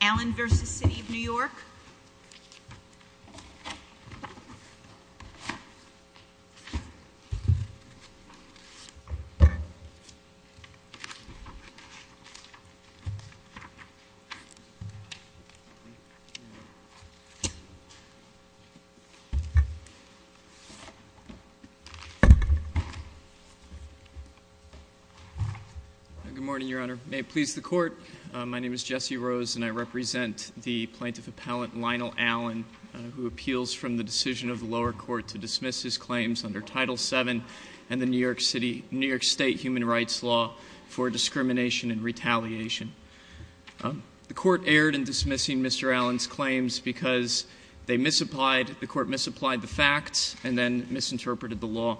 Allen v. City of New York Good morning, Your Honor. May it please the court, my name is Jesse Rose and I represent the plaintiff appellant Lionel Allen, who appeals from the decision of the lower court to dismiss his claims under Title VII and the New York State Human Rights Law for discrimination and retaliation. The court erred in dismissing Mr. Allen's claims because they misapplied, the court misapplied the facts, and then misinterpreted the law.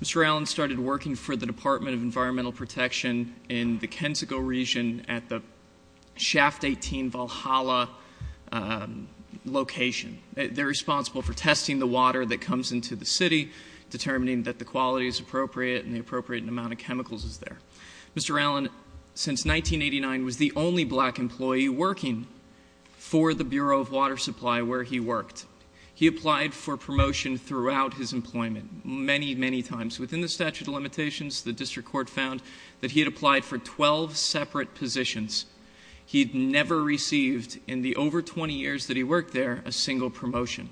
Mr. Allen started working for the Department of Environmental Protection in the Kensico region at the Shaft 18 Valhalla location. They're responsible for testing the water that comes into the city, determining that the quality is appropriate and the appropriate amount of chemicals is there. Mr. Allen, since 1989, was the only black employee working for the Bureau of Water Supply where he worked. He applied for promotion throughout his employment. Many, many times. Within the statute of limitations, the district court found that he had applied for 12 separate positions. He'd never received, in the over 20 years that he worked there, a single promotion.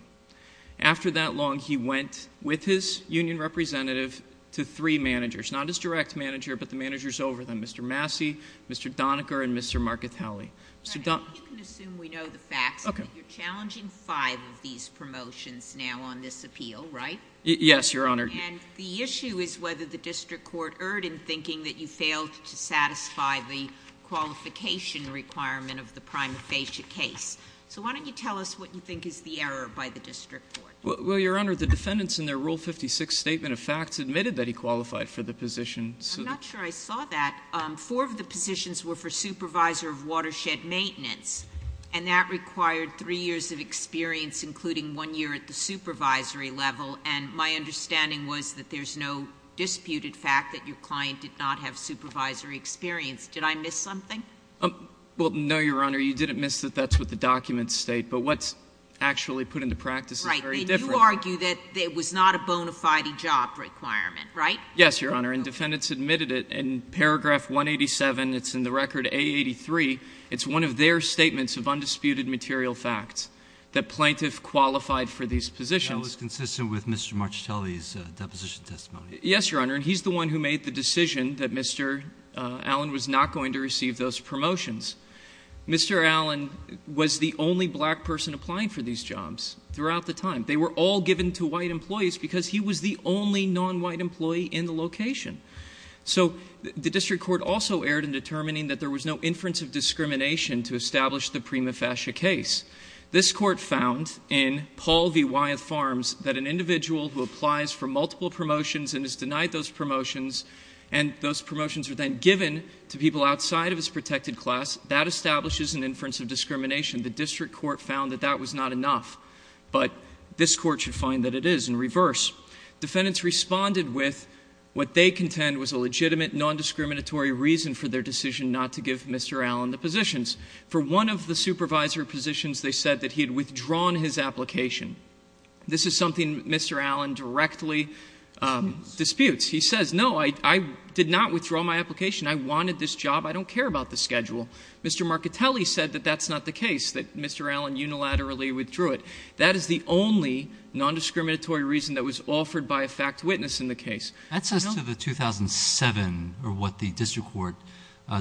After that long, he went, with his union representative, to three managers. Not his direct manager, but the managers over them, Mr. Massey, Mr. Doniger, and Mr. Markatelli. Mr. Don- You can assume we know the facts. Okay. You're challenging five of these promotions now on this appeal, right? Yes, your honor. And the issue is whether the district court erred in thinking that you failed to satisfy the qualification requirement of the prime facia case. So why don't you tell us what you think is the error by the district court? Well, your honor, the defendants in their rule 56 statement of facts admitted that he qualified for the position. I'm not sure I saw that. Four of the positions were for supervisor of watershed maintenance. And that required three years of experience, including one year at the supervisory level. And my understanding was that there's no disputed fact that your client did not have supervisory experience. Did I miss something? Well, no, your honor. You didn't miss that that's what the documents state. But what's actually put into practice is very different. Right. And you argue that it was not a bona fide job requirement, right? Yes, your honor. And defendants admitted it. In paragraph 187, it's in the record A83, it's one of their statements of undisputed material facts. That plaintiff qualified for these positions. That was consistent with Mr. Marchitelli's deposition testimony. Yes, your honor, and he's the one who made the decision that Mr. Allen was not going to receive those promotions. Mr. Allen was the only black person applying for these jobs throughout the time. They were all given to white employees because he was the only non-white employee in the location. So, the district court also erred in determining that there was no inference of discrimination to establish the prima facie case. This court found in Paul V. Wyeth Farms that an individual who applies for multiple promotions and is denied those promotions, and those promotions are then given to people outside of his protected class, that establishes an inference of discrimination. The district court found that that was not enough, but this court should find that it is in reverse. Defendants responded with what they contend was a legitimate non-discriminatory reason for their decision not to give Mr. Allen the positions. For one of the supervisory positions, they said that he had withdrawn his application. This is something Mr. Allen directly disputes. He says, no, I did not withdraw my application. I wanted this job. I don't care about the schedule. Mr. Marchitelli said that that's not the case, that Mr. Allen unilaterally withdrew it. That is the only non-discriminatory reason that was offered by a fact witness in the case. I don't- That says to the 2007, or what the district court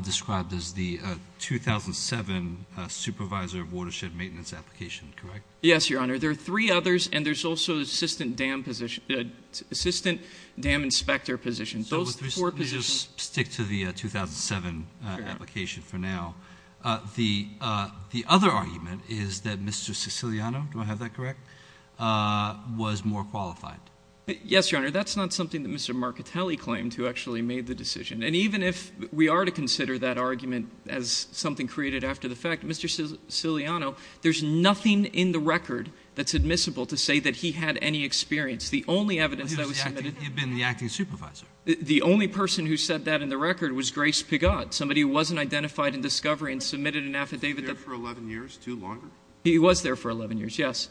described as the 2007 supervisor of watershed maintenance application, correct? Yes, your honor. There are three others, and there's also assistant dam inspector positions. Those four positions- Let's just stick to the 2007 application for now. The other argument is that Mr. Siciliano, do I have that correct, was more qualified. Yes, your honor. That's not something that Mr. Marchitelli claimed who actually made the decision. And even if we are to consider that argument as something created after the fact, Mr. Siciliano, there's nothing in the record that's admissible to say that he had any experience. The only evidence that was submitted- He'd been the acting supervisor. The only person who said that in the record was Grace Pigott, somebody who wasn't identified in discovery and submitted an affidavit that- He was there for 11 years, two longer? He was there for 11 years, yes.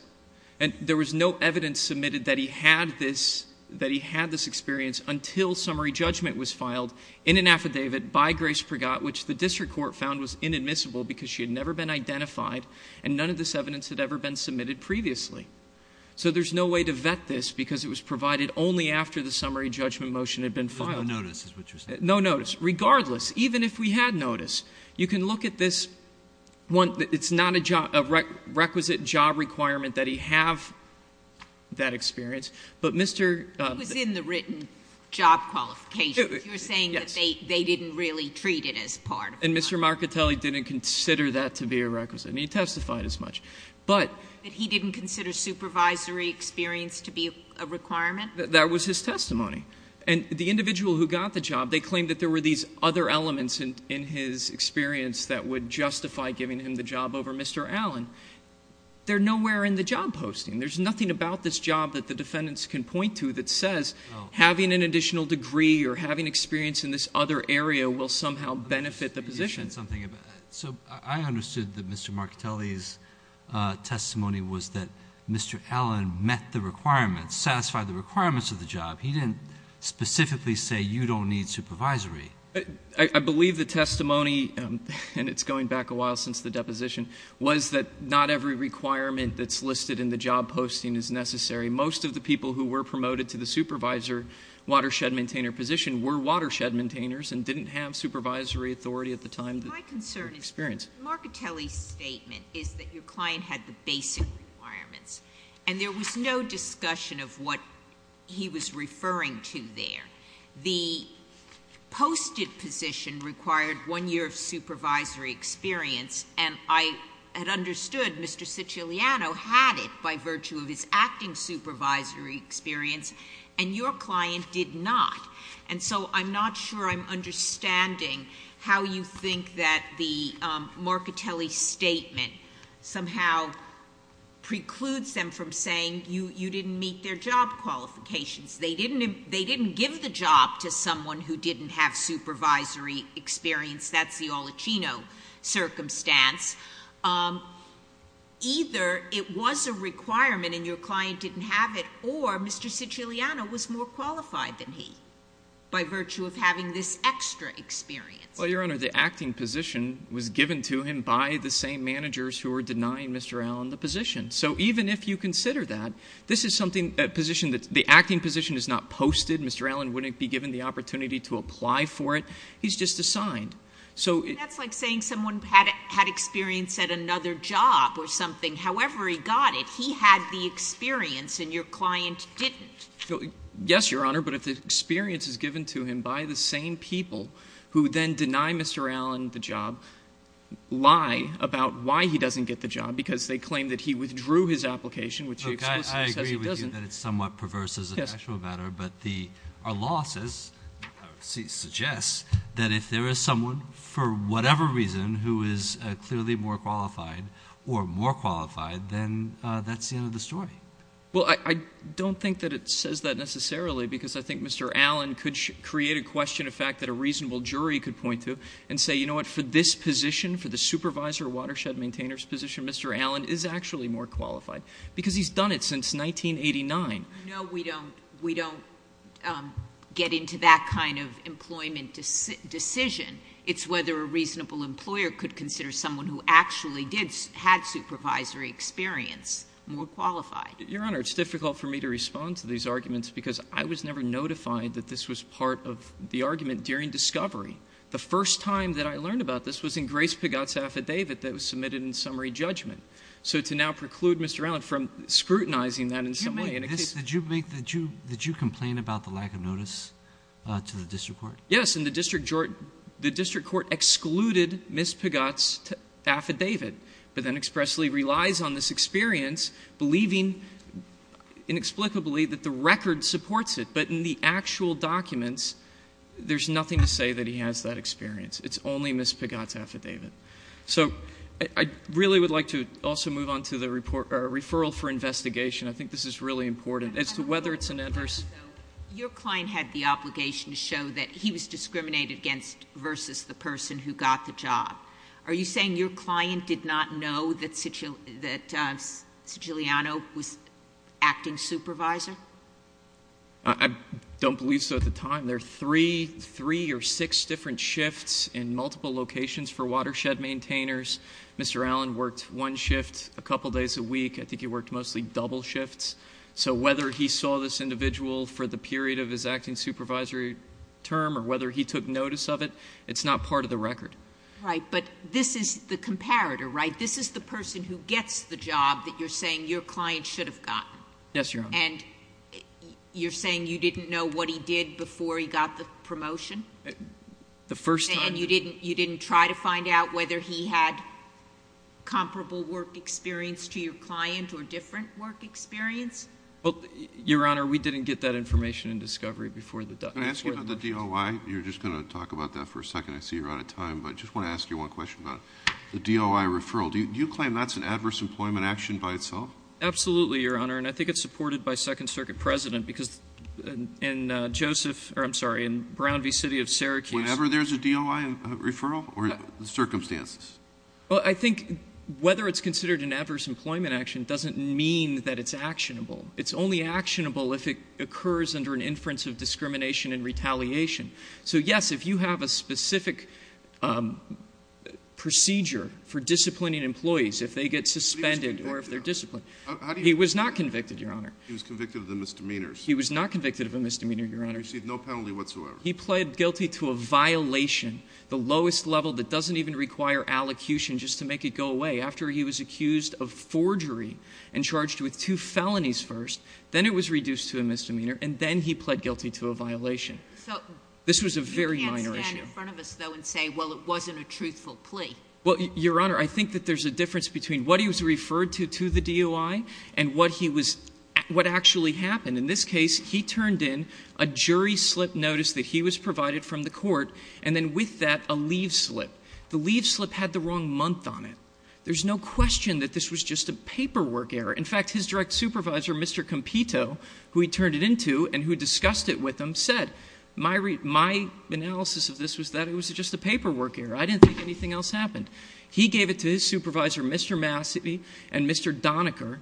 And there was no evidence submitted that he had this experience until summary judgment was filed in an affidavit by Grace Pigott, which the district court found was inadmissible because she had never been identified. And none of this evidence had ever been submitted previously. So there's no way to vet this because it was provided only after the summary judgment motion had been filed. No notice is what you're saying. No notice. Regardless, even if we had notice, you can look at this. It's not a requisite job requirement that he have that experience. But Mr- It was in the written job qualifications. You're saying that they didn't really treat it as part of that. And Mr. Marcatelli didn't consider that to be a requisite. And he testified as much. But- But he didn't consider supervisory experience to be a requirement? That was his testimony. And the individual who got the job, they claimed that there were these other elements in his experience that would justify giving him the job over Mr. Allen. They're nowhere in the job posting. There's nothing about this job that the defendants can point to that says having an additional degree or having experience in this other area will somehow benefit the position. So I understood that Mr. Marcatelli's testimony was that Mr. Allen met the requirements, satisfied the requirements of the job. He didn't specifically say you don't need supervisory. I believe the testimony, and it's going back a while since the deposition, was that not every requirement that's listed in the job posting is necessary. Most of the people who were promoted to the supervisor watershed maintainer position were watershed maintainers and didn't have supervisory authority at the time of the experience. My concern is that Marcatelli's statement is that your client had the basic requirements. And there was no discussion of what he was referring to there. The posted position required one year of supervisory experience, and I had understood Mr. Siciliano had it by virtue of his acting supervisory experience. And your client did not. And so I'm not sure I'm understanding how you think that the Marcatelli statement somehow precludes them from saying you didn't meet their job qualifications. They didn't give the job to someone who didn't have supervisory experience. That's the Olichino circumstance. Either it was a requirement and your client didn't have it, or Mr. Siciliano was more qualified than he. By virtue of having this extra experience. Well, your honor, the acting position was given to him by the same managers who were denying Mr. Allen the position. So even if you consider that, this is something, the acting position is not posted. Mr. Allen wouldn't be given the opportunity to apply for it. He's just assigned. So- That's like saying someone had experience at another job or something. However he got it, he had the experience and your client didn't. Yes, your honor, but if the experience is given to him by the same people who then deny Mr. Allen the job, lie about why he doesn't get the job because they claim that he withdrew his application, which he explicitly says he doesn't. Okay, I agree with you that it's somewhat perverse as a factual matter. But the, our law says, suggests that if there is someone for whatever reason who is clearly more qualified or more qualified, then that's the end of the story. Well, I don't think that it says that necessarily, because I think Mr. Allen could create a question of fact that a reasonable jury could point to. And say, you know what, for this position, for the supervisor watershed maintainer's position, Mr. Allen is actually more qualified. Because he's done it since 1989. No, we don't get into that kind of employment decision. It's whether a reasonable employer could consider someone who actually did, had supervisory experience more qualified. Your honor, it's difficult for me to respond to these arguments because I was never notified that this was part of the argument during discovery. The first time that I learned about this was in Grace Pagot's affidavit that was submitted in summary judgment. So to now preclude Mr. Allen from scrutinizing that in some way. Did you complain about the lack of notice to the district court? Yes, and the district court excluded Ms. Pagot's affidavit. But then expressly relies on this experience, believing inexplicably that the record supports it. But in the actual documents, there's nothing to say that he has that experience. It's only Ms. Pagot's affidavit. So I really would like to also move on to the referral for investigation. I think this is really important as to whether it's an adverse. Your client had the obligation to show that he was discriminated against versus the person who got the job. Are you saying your client did not know that Siciliano was acting supervisor? I don't believe so at the time. There are three or six different shifts in multiple locations for watershed maintainers. Mr. Allen worked one shift a couple days a week. I think he worked mostly double shifts. So whether he saw this individual for the period of his acting supervisory term, or whether he took notice of it, it's not part of the record. Right, but this is the comparator, right? This is the person who gets the job that you're saying your client should have gotten. Yes, Your Honor. And you're saying you didn't know what he did before he got the promotion? The first time. And you didn't try to find out whether he had comparable work experience to your client or different work experience? Well, Your Honor, we didn't get that information in discovery before the- Can I ask you about the DOI? You're just going to talk about that for a second. I see you're out of time, but I just want to ask you one question about the DOI referral. Do you claim that's an adverse employment action by itself? Absolutely, Your Honor, and I think it's supported by Second Circuit President, because in Brown v. City of Syracuse- Whenever there's a DOI referral, or circumstances? Well, I think whether it's considered an adverse employment action doesn't mean that it's actionable. It's only actionable if it occurs under an inference of discrimination and retaliation. So yes, if you have a specific procedure for disciplining employees, if they get suspended or if they're disciplined, he was not convicted, Your Honor. He was convicted of the misdemeanors. He was not convicted of a misdemeanor, Your Honor. He received no penalty whatsoever. He pled guilty to a violation, the lowest level that doesn't even require allocution just to make it go away, after he was accused of forgery and charged with two felonies first. Then it was reduced to a misdemeanor, and then he pled guilty to a violation. So- This was a very minor issue. You can't stand in front of us, though, and say, well, it wasn't a truthful plea. Well, Your Honor, I think that there's a difference between what he was referred to, to the DOI, and what he was, what actually happened. In this case, he turned in a jury slip notice that he was provided from the court, and then with that, a leave slip. The leave slip had the wrong month on it. There's no question that this was just a paperwork error. In fact, his direct supervisor, Mr. Compito, who he turned it into and who discussed it with him, said, my analysis of this was that it was just a paperwork error. I didn't think anything else happened. He gave it to his supervisor, Mr. Massey, and Mr. Doniker,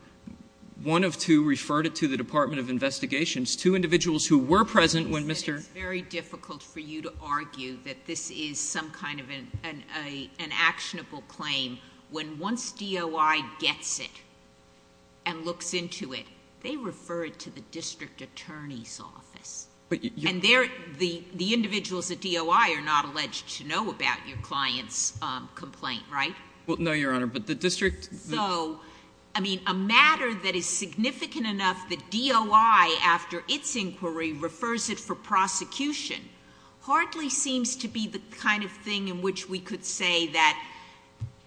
one of two, referred it to the Department of Investigations, two individuals who were present when Mr- It's very difficult for you to argue that this is some kind of an actionable claim, when once DOI gets it and looks into it, they refer it to the district attorney's office. And the individuals at DOI are not alleged to know about your client's complaint, right? Well, no, Your Honor, but the district- So, I mean, a matter that is significant enough that DOI, after its inquiry, refers it for prosecution, hardly seems to be the kind of thing in which we could say that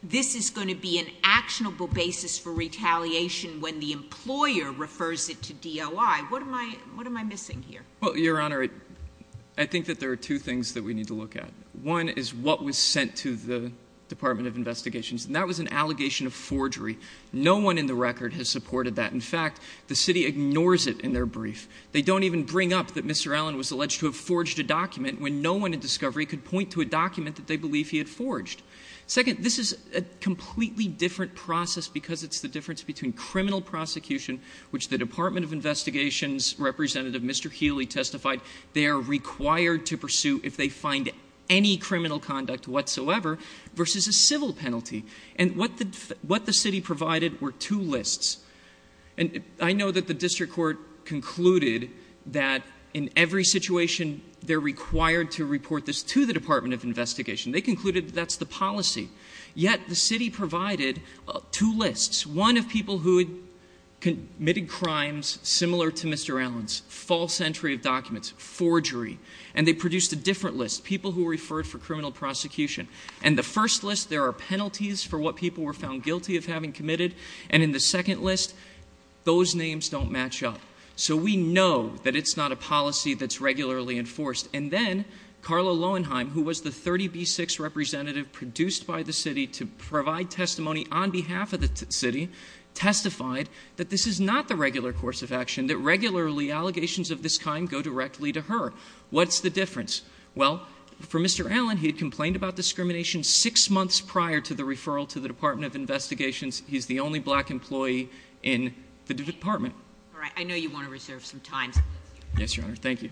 this is going to be an actionable basis for retaliation when the employer refers it to DOI. What am I missing here? Well, Your Honor, I think that there are two things that we need to look at. One is what was sent to the Department of Investigations, and that was an allegation of forgery. No one in the record has supported that. In fact, the city ignores it in their brief. They don't even bring up that Mr. Allen was alleged to have forged a document when no one in discovery could point to a document that they believe he had forged. Second, this is a completely different process because it's the difference between criminal prosecution, which the Department of Investigations representative, Mr. Healy, testified they are required to pursue if they find any criminal conduct whatsoever, versus a civil penalty. And what the city provided were two lists. And I know that the district court concluded that in every situation they're required to report this to the Department of Investigation. They concluded that that's the policy, yet the city provided two lists. One of people who had committed crimes similar to Mr. Allen's, false entry of documents, forgery. And they produced a different list, people who were referred for criminal prosecution. And the first list, there are penalties for what people were found guilty of having committed. And in the second list, those names don't match up. So we know that it's not a policy that's regularly enforced. And then, Carla Lowenheim, who was the 30B6 representative produced by the city to provide testimony on behalf of the city, testified that this is not the regular course of action, that regularly allegations of this kind go directly to her. What's the difference? Well, for Mr. Allen, he had complained about discrimination six months prior to the referral to the Department of Investigations. He's the only black employee in the department. All right, I know you want to reserve some time. Yes, your honor. Thank you.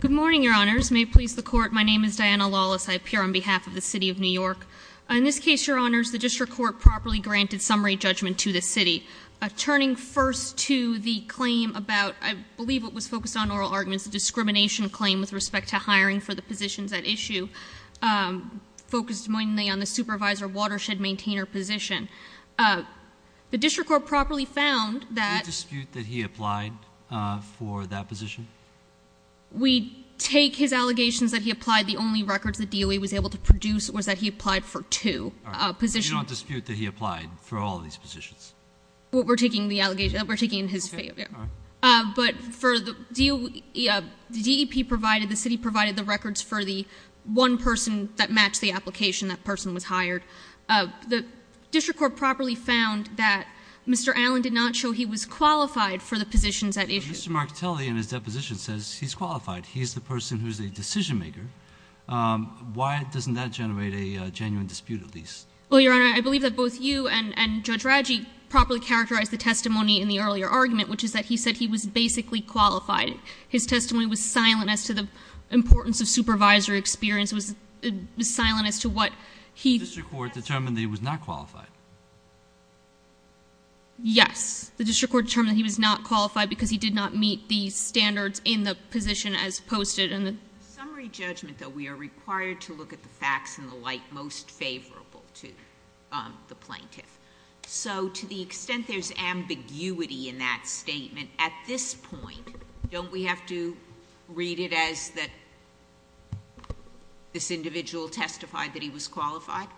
Good morning, your honors. May it please the court. My name is Diana Lawless. I appear on behalf of the city of New York. In this case, your honors, the district court properly granted summary judgment to the city. Turning first to the claim about, I believe it was focused on oral arguments, discrimination claim with respect to hiring for the positions at issue. Focused mainly on the supervisor watershed maintainer position. The district court properly found that- Do you dispute that he applied for that position? We take his allegations that he applied. The only records the DOE was able to produce was that he applied for two positions. You don't dispute that he applied for all of these positions? We're taking the allegation, we're taking his failure. But for the DEP provided, the city provided the records for the one person that matched the application, that person was hired. The district court properly found that Mr. Allen did not show he was qualified for the positions at issue. Mr. Martelli in his deposition says he's qualified. He's the person who's a decision maker. Why doesn't that generate a genuine dispute at least? Well, your honor, I believe that both you and Judge Raggi properly characterized the testimony in the earlier argument, which is that he said he was basically qualified. His testimony was silent as to the importance of supervisory experience, was silent as to what he- The district court determined that he was not qualified. Yes, the district court determined that he was not qualified because he did not meet the standards in the position as posted in the- Summary judgment, though, we are required to look at the facts in the light most favorable to the plaintiff. So to the extent there's ambiguity in that statement, at this point, don't we have to read it as that this individual testified that he was qualified?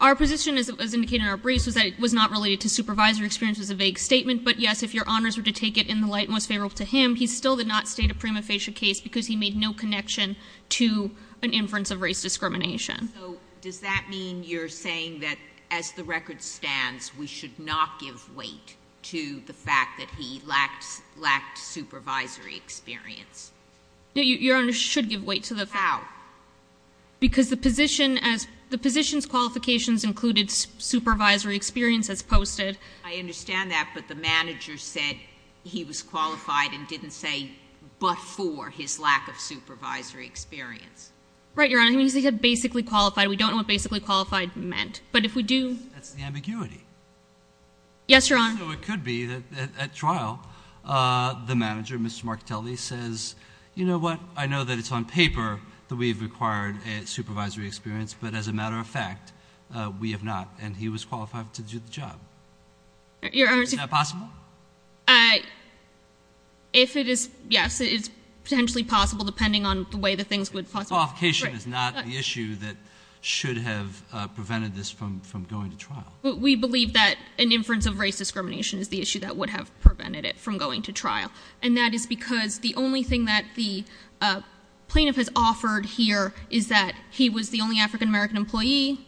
Our position, as indicated in our briefs, was that it was not related to supervisory experience, it was a vague statement. But yes, if your honors were to take it in the light most favorable to him, he still did not state a prima facie case because he made no connection to an inference of race discrimination. So does that mean you're saying that as the record stands, we should not give weight to the fact that he lacked supervisory experience? Your honor should give weight to the fact- How? Because the position's qualifications included supervisory experience as posted. I understand that, but the manager said he was qualified and didn't say but for his lack of supervisory experience. Right, your honor, he basically said basically qualified. We don't know what basically qualified meant. But if we do- That's the ambiguity. Yes, your honor. So it could be that at trial, the manager, Mr. Martelli, says, you know what? I know that it's on paper that we have required a supervisory experience, but as a matter of fact, we have not. And he was qualified to do the job. Is that possible? If it is, yes, it's potentially possible depending on the way that things would possibly- Qualification is not the issue that should have prevented this from going to trial. But we believe that an inference of race discrimination is the issue that would have prevented it from going to trial. And that is because the only thing that the plaintiff has offered here is that he was the only African American employee.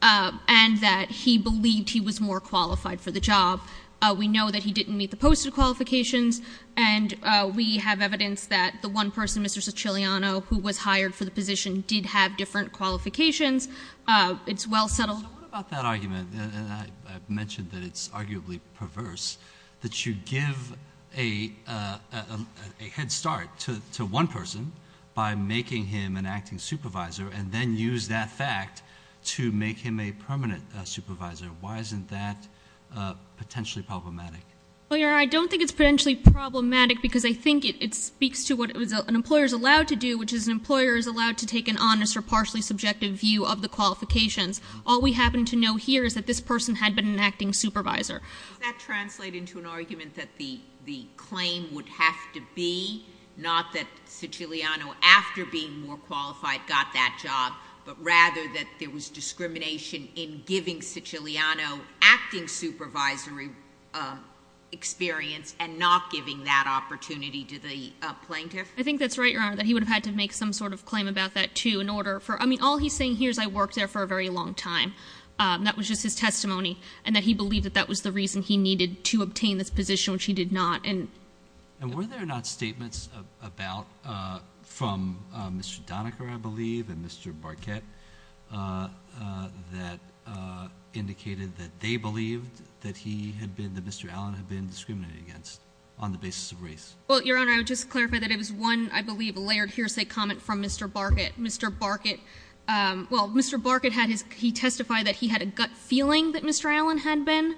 And that he believed he was more qualified for the job. We know that he didn't meet the posted qualifications. And we have evidence that the one person, Mr. Siciliano, who was hired for the position, did have different qualifications. It's well settled. So what about that argument? I've mentioned that it's arguably perverse, that you give a head start to one person. By making him an acting supervisor, and then use that fact to make him a permanent supervisor. Why isn't that potentially problematic? Well, your honor, I don't think it's potentially problematic because I think it speaks to what an employer is allowed to do, which is an employer is allowed to take an honest or partially subjective view of the qualifications. All we happen to know here is that this person had been an acting supervisor. Does that translate into an argument that the claim would have to be, not that Siciliano, after being more qualified, got that job, but rather that there was discrimination in giving Siciliano acting supervisory experience and not giving that opportunity to the plaintiff? I think that's right, your honor, that he would have had to make some sort of claim about that, too, in order for, I mean, all he's saying here is I worked there for a very long time. That was just his testimony, and that he believed that that was the reason he needed to obtain this position, which he did not. And were there not statements about, from Mr. Donaker, I believe, and Mr. Barquette, that indicated that they believed that he had been, that Mr. Allen had been discriminated against on the basis of race? Well, your honor, I would just clarify that it was one, I believe, layered hearsay comment from Mr. Barquette. Mr. Barquette, well, Mr. Barquette had his, he testified that he had a gut feeling that Mr. Allen had been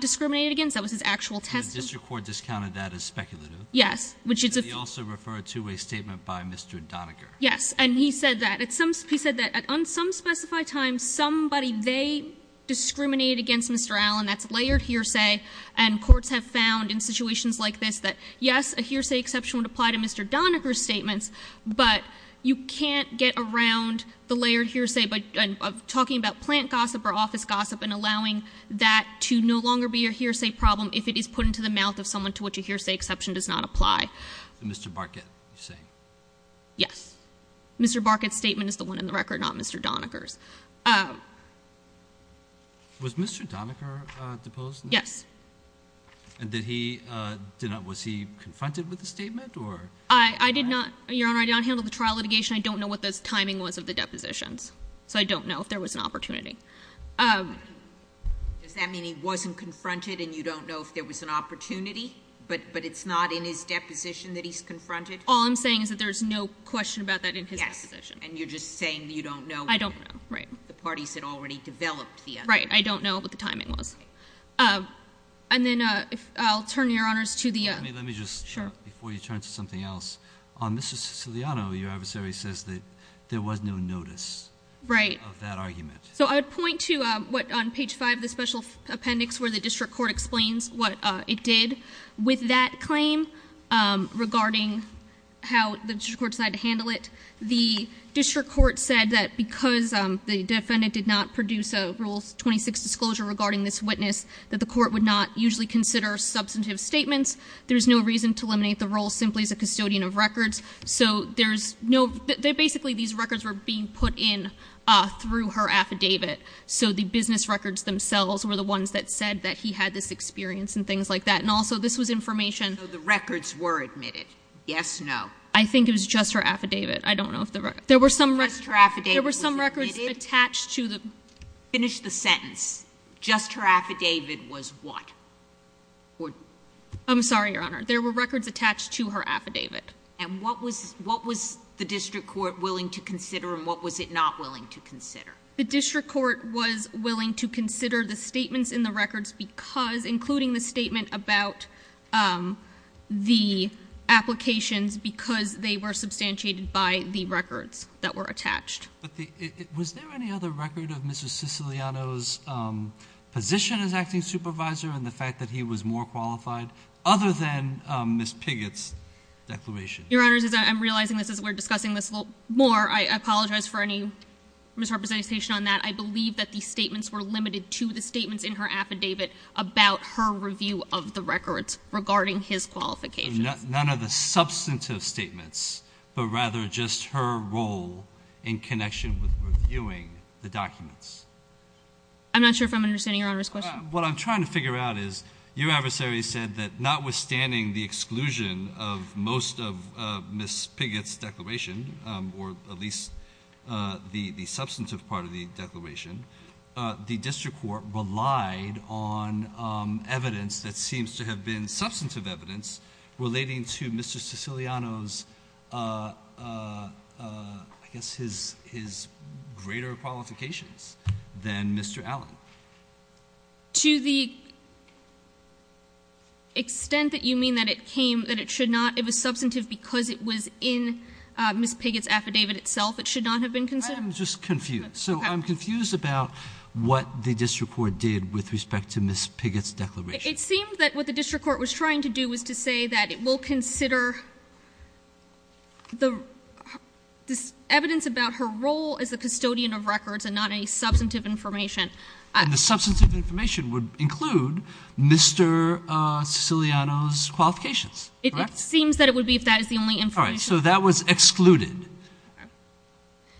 discriminated against, that was his actual testimony. And the district court discounted that as speculative? Yes, which is a- And he also referred to a statement by Mr. Donaker. Yes, and he said that, he said that on some specified times, somebody, they discriminated against Mr. Allen, that's layered hearsay. And courts have found, in situations like this, that yes, a hearsay exception would apply to Mr. Donaker's statements. But you can't get around the layered hearsay of talking about plant gossip or a hearsay problem if it is put into the mouth of someone to which a hearsay exception does not apply. Mr. Barquette, you're saying? Yes. Mr. Barquette's statement is the one in the record, not Mr. Donaker's. Was Mr. Donaker deposed? Yes. And did he, was he confronted with the statement, or? I did not, your honor, I did not handle the trial litigation. I don't know what the timing was of the depositions. So I don't know if there was an opportunity. Does that mean he wasn't confronted and you don't know if there was an opportunity? But it's not in his deposition that he's confronted? All I'm saying is that there's no question about that in his deposition. And you're just saying that you don't know? I don't know, right. The parties had already developed the other. Right, I don't know what the timing was. And then, I'll turn your honors to the- Let me just, before you turn to something else, on Mr. Siciliano, your adversary says that there was no notice. Right. Of that argument. So I would point to what, on page five of the special appendix, where the district court explains what it did. With that claim, regarding how the district court decided to handle it, the district court said that because the defendant did not produce a Rule 26 disclosure regarding this witness, that the court would not usually consider substantive statements. There's no reason to eliminate the role simply as a custodian of records. So there's no, basically these records were being put in through her affidavit. So the business records themselves were the ones that said that he had this experience and things like that. And also, this was information- So the records were admitted. Yes, no. I think it was just her affidavit. There were some records- Just her affidavit was admitted? There were some records attached to the- Finish the sentence. Just her affidavit was what? I'm sorry, your honor. There were records attached to her affidavit. And what was the district court willing to consider and what was it not willing to consider? The district court was willing to consider the statements in the records because, including the statement about the applications, because they were substantiated by the records that were attached. But was there any other record of Mr. Siciliano's position as acting supervisor and the fact that he was more qualified other than Ms. Piggott's declaration? Your honors, I'm realizing this as we're discussing this a little more. I apologize for any misrepresentation on that. I believe that the statements were limited to the statements in her affidavit about her review of the records regarding his qualifications. None of the substantive statements, but rather just her role in connection with reviewing the documents. I'm not sure if I'm understanding your honor's question. What I'm trying to figure out is, your adversary said that notwithstanding the exclusion of most of Ms. Piggott's declaration, or at least the substantive part of the declaration, the district court relied on evidence that seems to have been substantive evidence relating to Mr. Siciliano's, I guess, his greater qualifications than Mr. Allen. To the extent that you mean that it came, that it should not, it was substantive because it was in Ms. Piggott's affidavit itself, it should not have been considered? I'm just confused. So I'm confused about what the district court did with respect to Ms. Piggott's declaration. It seemed that what the district court was trying to do was to say that it will consider the evidence about her role as a custodian of records and not any substantive information. And the substantive information would include Mr. Siciliano's qualifications, correct? It seems that it would be if that is the only information. All right, so that was excluded.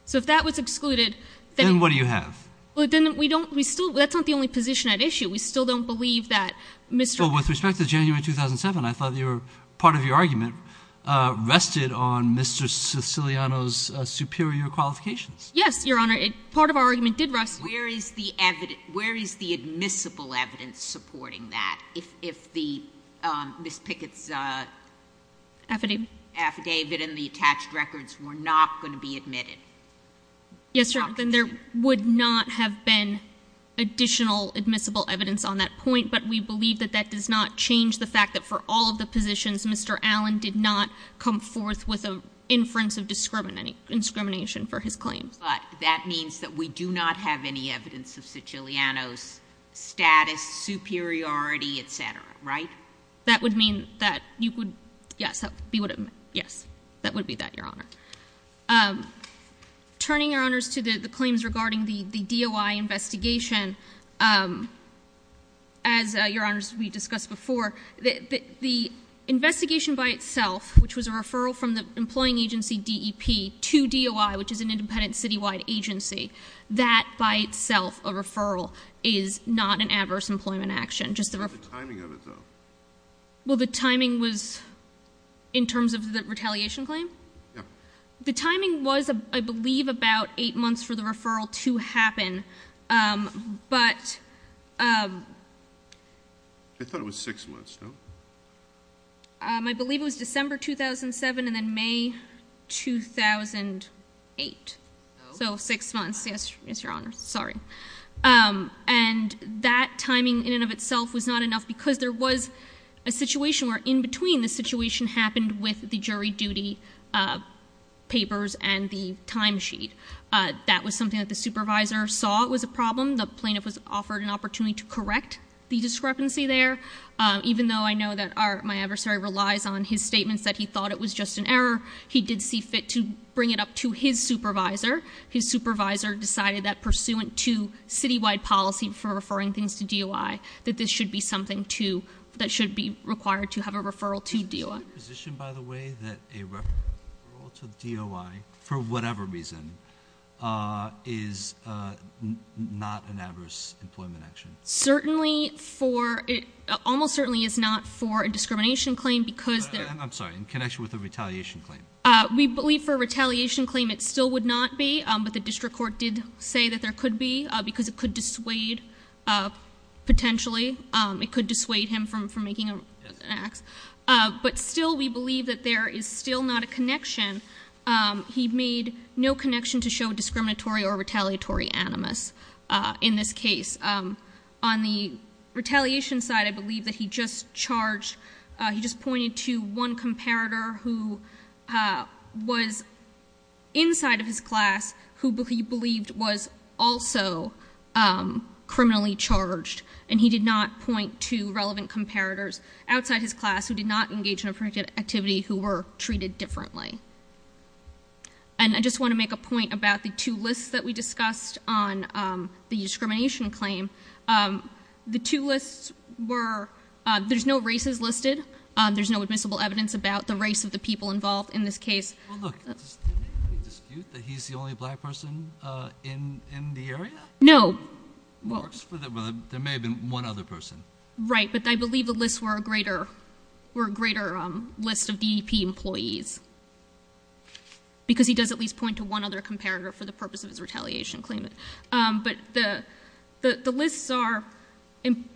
So if that was excluded, then- Then what do you have? Well, then we don't, we still, that's not the only position at issue. We still don't believe that Mr- Well, with respect to January 2007, I thought part of your argument rested on Mr. Siciliano's superior qualifications. Yes, your honor, part of our argument did rest- Where is the admissible evidence supporting that? If Ms. Piggott's affidavit and the attached records were not going to be admitted? Yes, your honor, then there would not have been additional admissible evidence on that point, but we believe that that does not change the fact that for all of the positions, Mr. Allen did not come forth with an inference of discrimination for his claims. But that means that we do not have any evidence of Siciliano's status, superiority, etc., right? That would mean that you would, yes, that would be that, your honor. Turning, your honors, to the claims regarding the DOI investigation, as, your honors, we discussed before, the investigation by itself, which was a referral from the employing agency DEP to DOI, which is an independent citywide agency, that by itself, a referral, is not an adverse employment action. Just the- What's the timing of it, though? Well, the timing was, in terms of the retaliation claim? Yeah. The timing was, I believe, about eight months for the referral to happen, but- I thought it was six months, no? I believe it was December 2007 and then May 2008. So six months, yes, your honor, sorry. And that timing in and of itself was not enough because there was a situation where in between, the situation happened with the jury duty papers and the time sheet. That was something that the supervisor saw was a problem. The plaintiff was offered an opportunity to correct the discrepancy there. Even though I know that my adversary relies on his statements that he thought it was just an error, he did see fit to bring it up to his supervisor. His supervisor decided that pursuant to citywide policy for referring things to DOI, that this should be something that should be required to have a referral to DOI. Is it your position, by the way, that a referral to DOI, for whatever reason, is not an adverse employment action? Certainly for, it almost certainly is not for a discrimination claim because- I'm sorry, in connection with a retaliation claim. We believe for a retaliation claim it still would not be, but the district court did say that there could be, because it could dissuade. Potentially, it could dissuade him from making an act. But still, we believe that there is still not a connection. He made no connection to show discriminatory or retaliatory animus in this case. On the retaliation side, I believe that he just charged, he just pointed to one comparator who was inside of his class, who he believed was also criminally charged. And he did not point to relevant comparators outside his class who did not engage in a particular activity who were treated differently. And I just want to make a point about the two lists that we discussed on the discrimination claim. The two lists were, there's no races listed. There's no admissible evidence about the race of the people involved in this case. Well look, does anybody dispute that he's the only black person in the area? No. Well, there may have been one other person. Right, but I believe the lists were a greater list of DEP employees. Because he does at least point to one other comparator for the purpose of his retaliation claim. But the lists are,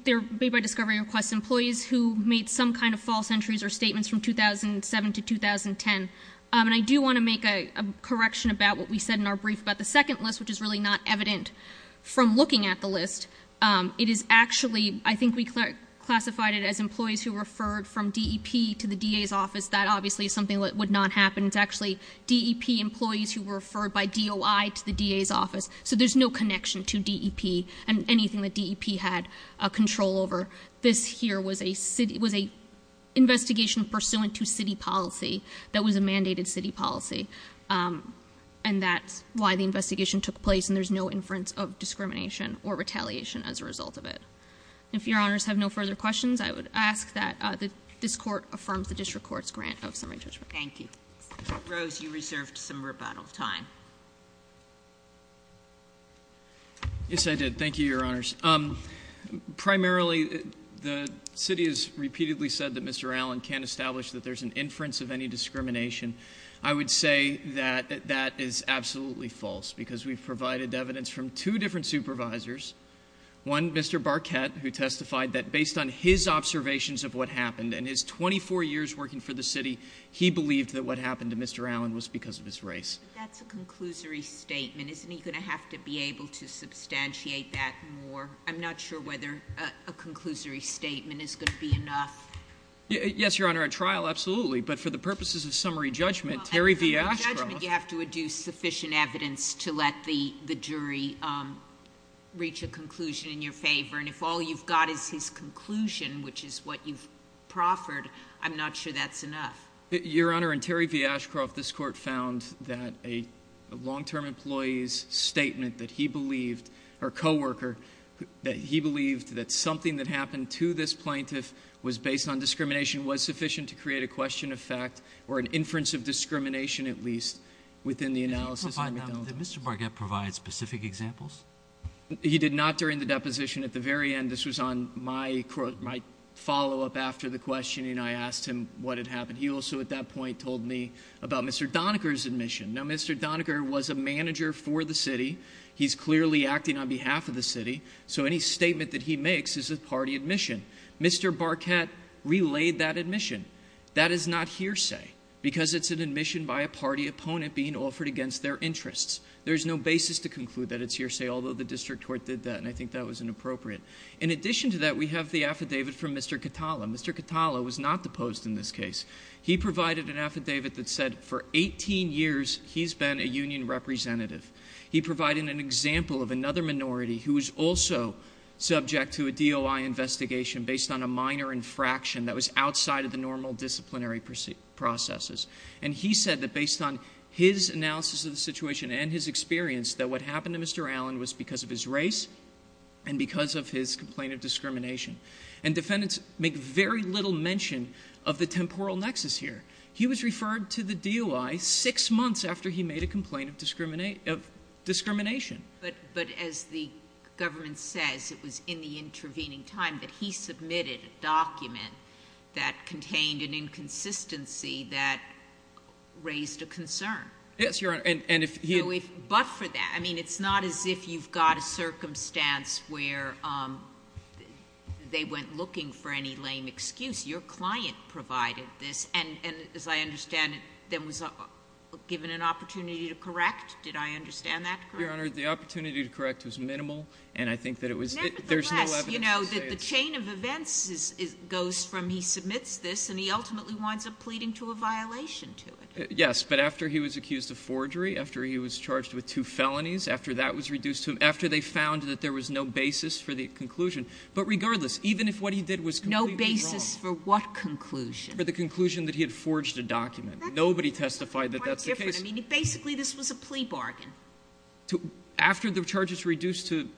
they're made by discovery request employees who made some kind of false entries or statements from 2007 to 2010. And I do want to make a correction about what we said in our brief about the second list, which is really not evident from looking at the list. It is actually, I think we classified it as employees who referred from DEP to the DA's office. That obviously is something that would not happen. It's actually DEP employees who were referred by DOI to the DA's office. So there's no connection to DEP and anything that DEP had control over. This here was a investigation pursuant to city policy that was a mandated city policy. And that's why the investigation took place and there's no inference of discrimination or retaliation as a result of it. If your honors have no further questions, I would ask that this court affirms the district court's grant of summary judgment. Thank you. Rose, you reserved some rebuttal time. Yes, I did. Thank you, your honors. Primarily, the city has repeatedly said that Mr. Allen can't establish that there's an inference of any discrimination. I would say that that is absolutely false, because we've provided evidence from two different supervisors. One, Mr. Barquette, who testified that based on his observations of what happened and his 24 years working for the city, he believed that what happened to Mr. Allen was because of his race. That's a conclusory statement. Isn't he going to have to be able to substantiate that more? I'm not sure whether a conclusory statement is going to be enough. Yes, your honor, a trial, absolutely. But for the purposes of summary judgment, Terry V. Ashcroft- You have to adduce sufficient evidence to let the jury reach a conclusion in your favor. And if all you've got is his conclusion, which is what you've proffered, I'm not sure that's enough. Your honor, in Terry V. Ashcroft, this court found that a long-term employee's statement that he believed, or co-worker, that he believed that something that happened to this plaintiff was based on discrimination, was sufficient to create a question of fact, or an inference of discrimination, at least, within the analysis- Did Mr. Barquette provide specific examples? He did not during the deposition. At the very end, this was on my follow-up after the questioning, I asked him what had happened. He also, at that point, told me about Mr. Doniger's admission. Now, Mr. Doniger was a manager for the city. He's clearly acting on behalf of the city, so any statement that he makes is a party admission. Mr. Barquette relayed that admission. That is not hearsay, because it's an admission by a party opponent being offered against their interests. There's no basis to conclude that it's hearsay, although the district court did that, and I think that was inappropriate. In addition to that, we have the affidavit from Mr. Catala. Mr. Catala was not deposed in this case. He provided an affidavit that said, for 18 years, he's been a union representative. He provided an example of another minority who was also subject to a DOI investigation based on a minor infraction that was outside of the normal disciplinary processes. And he said that based on his analysis of the situation and his experience, that what happened to Mr. Allen was because of his race and because of his complaint of discrimination. And defendants make very little mention of the temporal nexus here. He was referred to the DOI six months after he made a complaint of discrimination. But as the government says, it was in the intervening time that he submitted a document that contained an inconsistency that raised a concern. But for that, I mean, it's not as if you've got a circumstance where they went looking for any lame excuse. Your client provided this, and as I understand it, then was given an opportunity to correct? Did I understand that correctly? Your Honor, the opportunity to correct was minimal, and I think that it was- Nevertheless, you know, that the chain of events goes from he submits this, and he ultimately winds up pleading to a violation to it. Yes, but after he was accused of forgery, after he was charged with two felonies, after that was reduced to, after they found that there was no basis for the conclusion. But regardless, even if what he did was completely wrong- No basis for what conclusion? For the conclusion that he had forged a document. Nobody testified that that's the case. That's quite different. I mean, basically this was a plea bargain. After the charges reduced to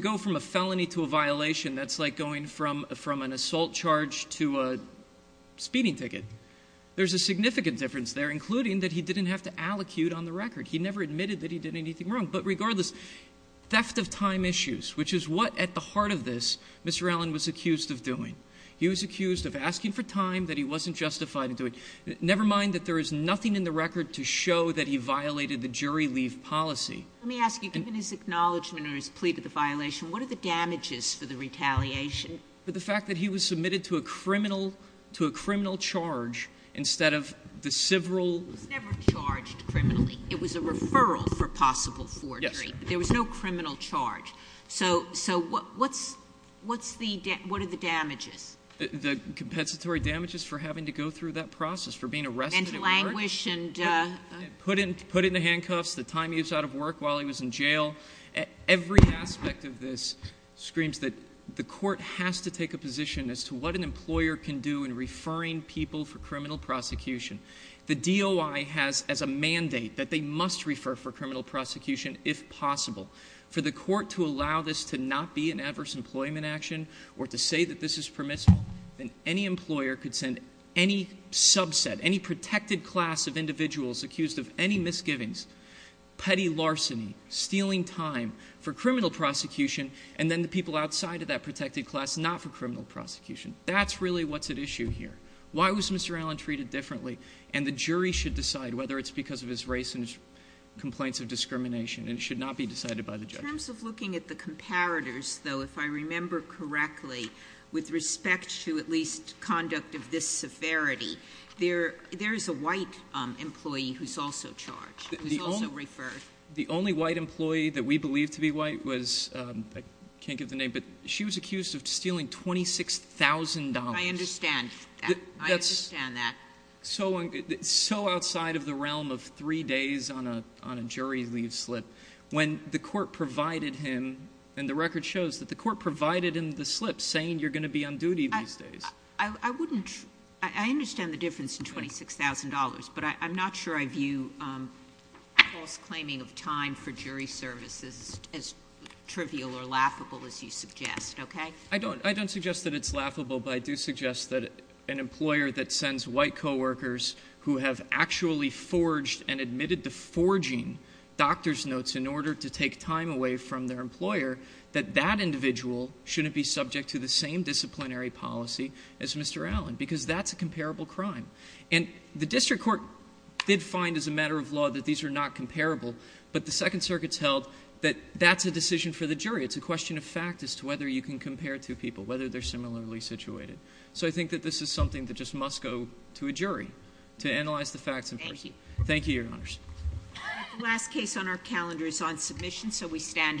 go from a felony to a violation, that's like going from an assault charge to a speeding ticket. There's a significant difference there, including that he didn't have to allocute on the record. He never admitted that he did anything wrong. But regardless, theft of time issues, which is what, at the heart of this, Mr. Allen was accused of doing. He was accused of asking for time that he wasn't justified in doing. Never mind that there is nothing in the record to show that he violated the jury leave policy. Let me ask you, given his acknowledgment or his plea to the violation, what are the damages for the retaliation? But the fact that he was submitted to a criminal charge instead of the several- He was never charged criminally. It was a referral for possible forgery. Yes, sir. There was no criminal charge. So what are the damages? The compensatory damages for having to go through that process, for being arrested at work. And languish and- Every aspect of this screams that the court has to take a position as to what an employer can do in referring people for criminal prosecution. The DOI has as a mandate that they must refer for criminal prosecution if possible. For the court to allow this to not be an adverse employment action, or to say that this is permissible, then any employer could send any subset, any protected class of individuals accused of any misgivings. Petty larceny, stealing time for criminal prosecution, and then the people outside of that protected class not for criminal prosecution. That's really what's at issue here. Why was Mr. Allen treated differently? And the jury should decide whether it's because of his race and his complaints of discrimination, and it should not be decided by the judge. In terms of looking at the comparators, though, if I remember correctly, with respect to at least conduct of this severity, there is a white employee who's also charged. Who's also referred. The only white employee that we believe to be white was, I can't give the name, but she was accused of stealing $26,000. I understand that. I understand that. So outside of the realm of three days on a jury leave slip, when the court provided him, and the record shows that the court provided him the slip saying you're going to be on duty these days. I understand the difference in $26,000, but I'm not sure I view false claiming of time for jury services as trivial or laughable as you suggest, okay? I don't suggest that it's laughable, but I do suggest that an employer that sends white coworkers who have actually forged and admitted to forging doctor's notes in order to take time away from their employer, that that individual shouldn't be subject to the same disciplinary policy as Mr. Allen, because that's a comparable crime. And the district court did find, as a matter of law, that these are not comparable. But the Second Circuit's held that that's a decision for the jury. It's a question of fact as to whether you can compare two people, whether they're similarly situated. So I think that this is something that just must go to a jury to analyze the facts. Thank you. Thank you, your honors. The last case on our calendar is on submission, so we stand adjourned.